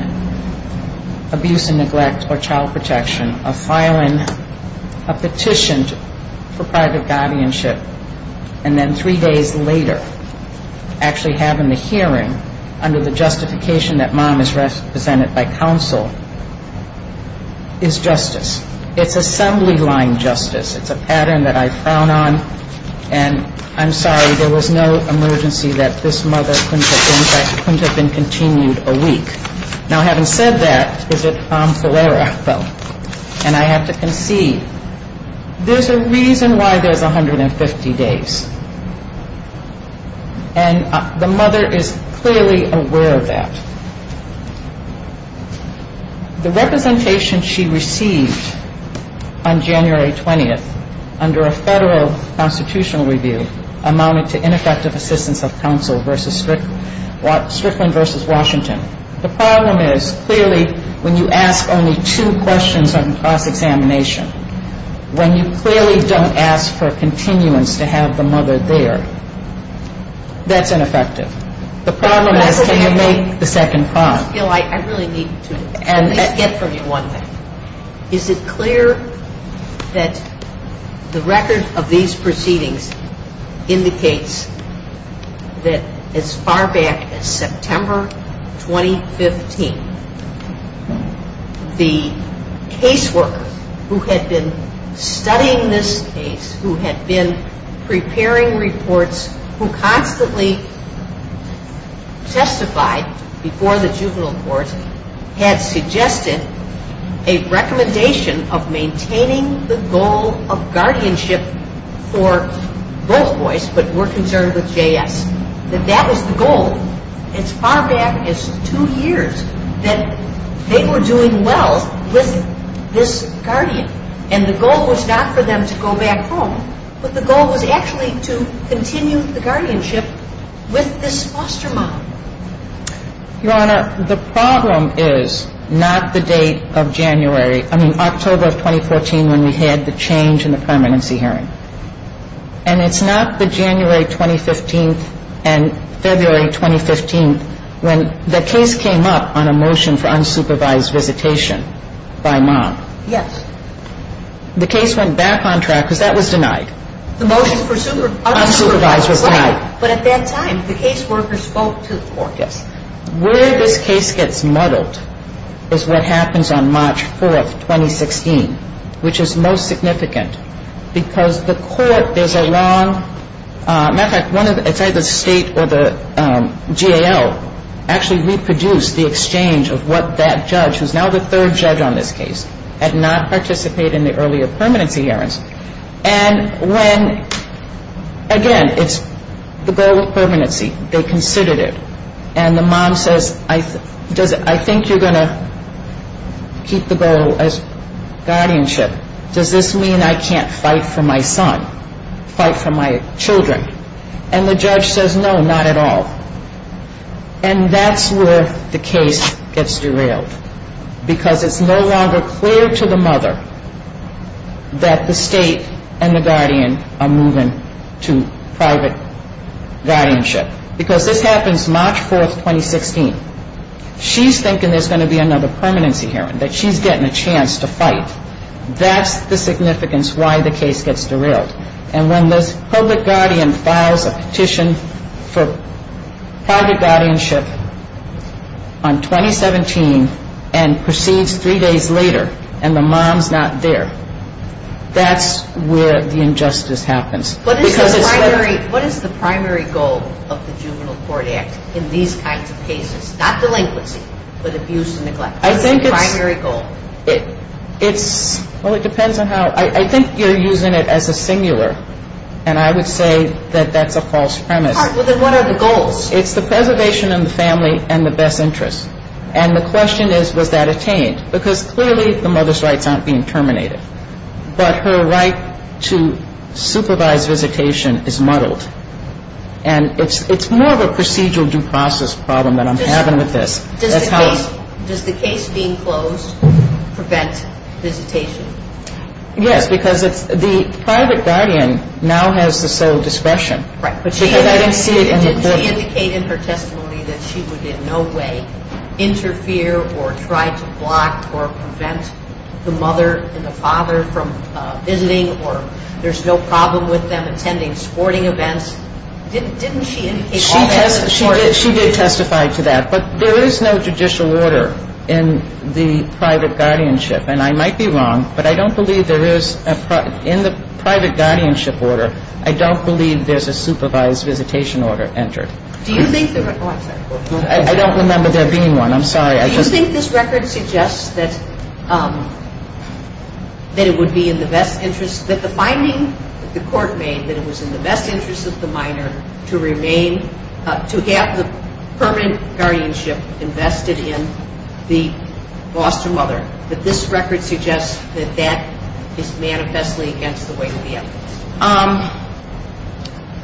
abuse and neglect or child protection of filing a petition for private guardianship and then three days later actually having the hearing under the justification that mom is represented by counsel is justice. It's assembly line justice. It's a pattern that I frown on, and I'm sorry, there was no emergency that this mother couldn't have been continued a week. Now, having said that, is it Tom Follera, though, and I have to concede, there's a reason why there's 150 days. And the mother is clearly aware of that. The representation she received on January 20th under a federal constitutional review amounted to ineffective assistance of counsel versus Strickland v. Washington. The problem is clearly when you ask only two questions on cross-examination, when you clearly don't ask for continuance to have the mother there, that's ineffective. The problem is can you make the second prompt? Ms. Gill, I really need to get from you one thing. Is it clear that the record of these proceedings indicates that as far back as September 2015, the caseworker who had been studying this case, who had been preparing reports, who constantly testified before the juvenile court, had suggested a recommendation of maintaining the goal of guardianship for both boys, but were concerned with J.S., that that was the goal as far back as two years, that they were doing well with this guardian, and the goal was not for them to go back home, but the goal was actually to continue the guardianship with this foster mom? Your Honor, the problem is not the date of January. I mean, October of 2014 when we had the change in the permanency hearing. And it's not the January 2015 and February 2015 when the case came up on a motion for unsupervised visitation by mom. Yes. The case went back on track because that was denied. The motion for unsupervised was denied. But at that time, the caseworker spoke to the court. Yes. Where this case gets muddled is what happens on March 4th, 2016, which is most significant, because the court, there's a long, matter of fact, it's either the state or the GAO actually reproduced the exchange of what that judge, who's now the third judge on this case, had not participated in the earlier permanency hearings. And when, again, it's the goal of permanency. They considered it. And the mom says, I think you're going to keep the goal as guardianship. Does this mean I can't fight for my son, fight for my children? And the judge says, no, not at all. And that's where the case gets derailed because it's no longer clear to the mother that the state and the guardian are moving to private guardianship. Because this happens March 4th, 2016. She's thinking there's going to be another permanency hearing, that she's getting a chance to fight. That's the significance why the case gets derailed. And when the public guardian files a petition for private guardianship on 2017 and proceeds three days later and the mom's not there, that's where the injustice happens. What is the primary goal of the Juvenile Court Act in these kinds of cases? Not delinquency, but abuse and neglect. What is the primary goal? Well, it depends on how. I think you're using it as a singular. And I would say that that's a false premise. All right. Well, then what are the goals? It's the preservation of the family and the best interests. And the question is, was that attained? Because clearly the mother's rights aren't being terminated. But her right to supervise visitation is muddled. And it's more of a procedural due process problem that I'm having with this. Does the case being closed prevent visitation? Yes, because the private guardian now has the sole discretion. Right. Did she indicate in her testimony that she would in no way interfere or try to block or prevent the mother and the father from visiting or there's no problem with them attending sporting events? Didn't she indicate all that? She did testify to that. But there is no judicial order in the private guardianship. And I might be wrong, but I don't believe there is a – in the private guardianship order, I don't believe there's a supervised visitation order entered. Do you think there – oh, I'm sorry. I don't remember there being one. I'm sorry. Do you think this record suggests that it would be in the best interest – that the finding that the court made that it was in the best interest of the minor to remain – to have the permanent guardianship invested in the foster mother, that this record suggests that that is manifestly against the weight of the evidence?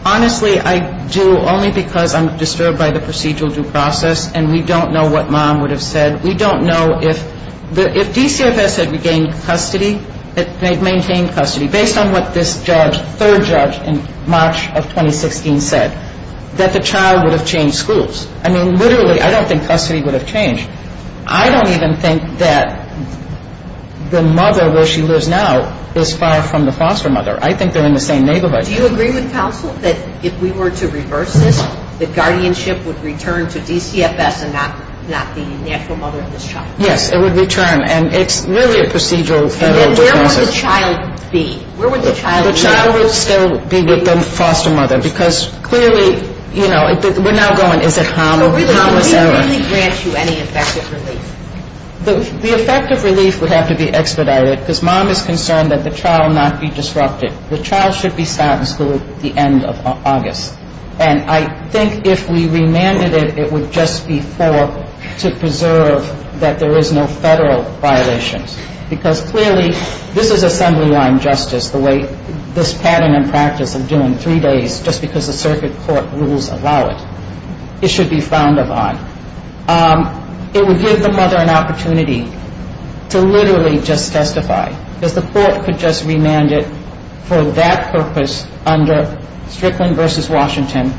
Honestly, I do only because I'm disturbed by the procedural due process. And we don't know what mom would have said. We don't know if – if DCFS had regained custody, if they'd maintained custody based on what this judge, third judge, in March of 2016 said, that the child would have changed schools. I mean, literally, I don't think custody would have changed. I don't even think that the mother where she lives now is far from the foster mother. I think they're in the same neighborhood. Do you agree with counsel that if we were to reverse this, that guardianship would return to DCFS and not the natural mother of this child? Yes, it would return. And it's really a procedural federal due process. And then where would the child be? Where would the child be? The child would still be with the foster mother. Because clearly, you know, we're now going, is it harmless error? So really, would we really grant you any effective relief? The effective relief would have to be expedited because mom is concerned that the child not be disrupted. The child should be stopped in school at the end of August. And I think if we remanded it, it would just be for to preserve that there is no federal violations. Because clearly, this is assembly line justice, the way this pattern and practice of doing three days just because the circuit court rules allow it. It should be found of on. It would give the mother an opportunity to literally just testify. Because the court could just remand it for that purpose under Strickland v. Washington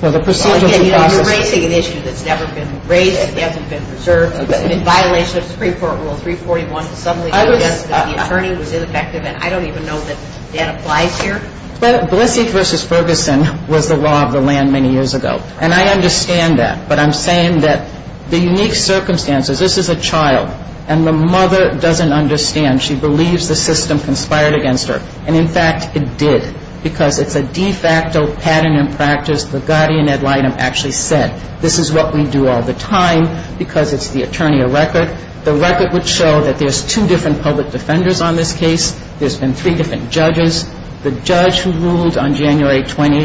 for the procedural process. Again, you're raising an issue that's never been raised. It hasn't been preserved. It's a violation of Supreme Court Rule 341 to suddenly suggest that the attorney was ineffective. And I don't even know that that applies here. But Blissey v. Ferguson was the law of the land many years ago. And I understand that. But I'm saying that the unique circumstances, this is a child. And the mother doesn't understand. She believes the system conspired against her. And, in fact, it did. Because it's a de facto pattern and practice. The guardian ad litem actually said, this is what we do all the time because it's the attorney of record. The record would show that there's two different public defenders on this case. There's been three different judges. The judge who ruled on January 20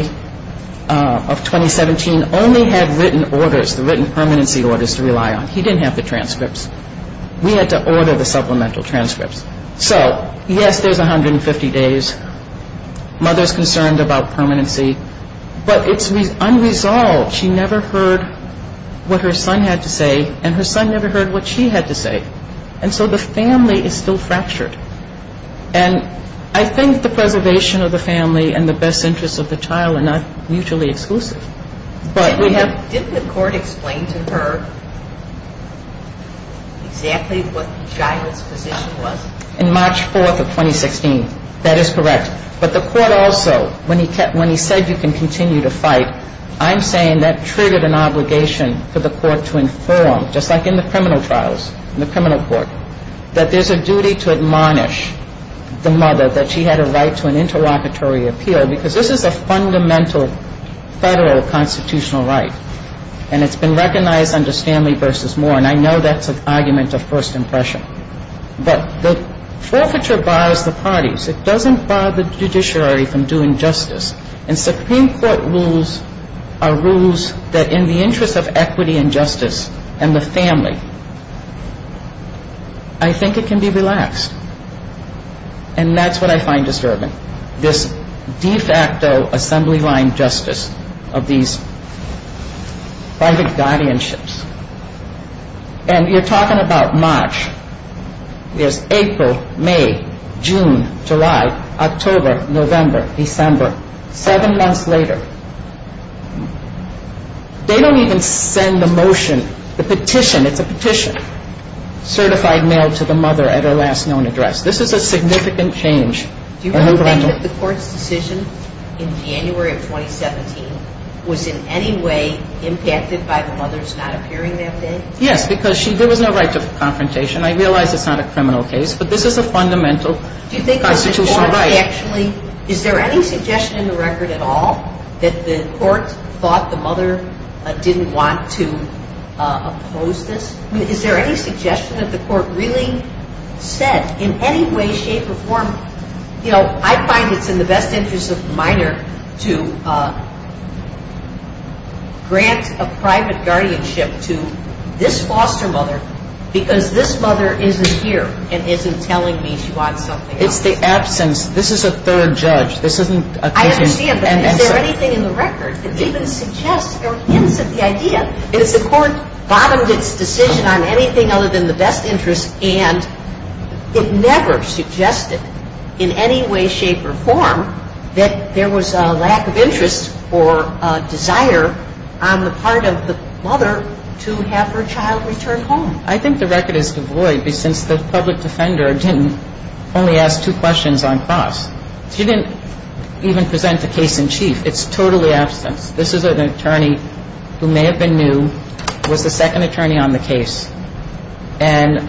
of 2017 only had written orders, the written permanency orders to rely on. He didn't have the transcripts. We had to order the supplemental transcripts. So, yes, there's 150 days. Mother's concerned about permanency. But it's unresolved. She never heard what her son had to say. And her son never heard what she had to say. And so the family is still fractured. And I think the preservation of the family and the best interests of the child are not mutually exclusive. Didn't the court explain to her exactly what the child's position was? In March 4 of 2016. That is correct. But the court also, when he said you can continue to fight, I'm saying that triggered an obligation for the court to inform, just like in the criminal trials, in the criminal court, that there's a duty to admonish the mother that she had a right to an interlocutory appeal. Because this is a fundamental federal constitutional right. And it's been recognized under Stanley v. Moore. And I know that's an argument of first impression. But the forfeiture bars the parties. It doesn't bar the judiciary from doing justice. And Supreme Court rules are rules that in the interest of equity and justice and the family, I think it can be relaxed. And that's what I find disturbing. This de facto assembly line justice of these private guardianships. And you're talking about March. There's April, May, June, July, October, November, December. Seven months later. They don't even send a motion, a petition. It's a petition. Certified mail to the mother at her last known address. This is a significant change. Do you really think that the court's decision in January of 2017 was in any way impacted by the mother's not appearing that day? Yes, because there was no right to confrontation. I realize it's not a criminal case. But this is a fundamental constitutional right. Do you think that the court actually, is there any suggestion in the record at all that the court thought the mother didn't want to oppose this? Is there any suggestion that the court really said in any way, shape, or form, you know, I find it's in the best interest of the minor to grant a private guardianship to this foster mother, because this mother isn't here and isn't telling me she wants something else. It's the absence. This is a third judge. I understand, but is there anything in the record that even suggests or hints at the idea? The court bottomed its decision on anything other than the best interest and it never suggested in any way, shape, or form that there was a lack of interest or a desire on the part of the mother to have her child return home. I think the record is devoid, since the public defender didn't only ask two questions on cross. She didn't even present the case in chief. It's totally absence. This is an attorney who may have been new, was the second attorney on the case, and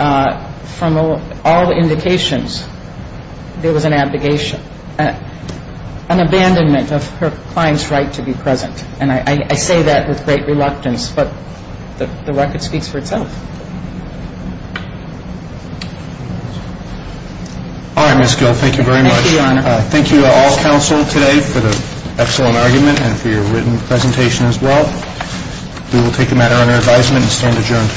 from all indications, there was an abdication, an abandonment of her client's right to be present. And I say that with great reluctance, but the record speaks for itself. All right, Ms. Gill, thank you very much. Thank you, Your Honor. Thank you for the excellent argument and for your written presentation as well. We will take a matter under advisement and stand adjourned.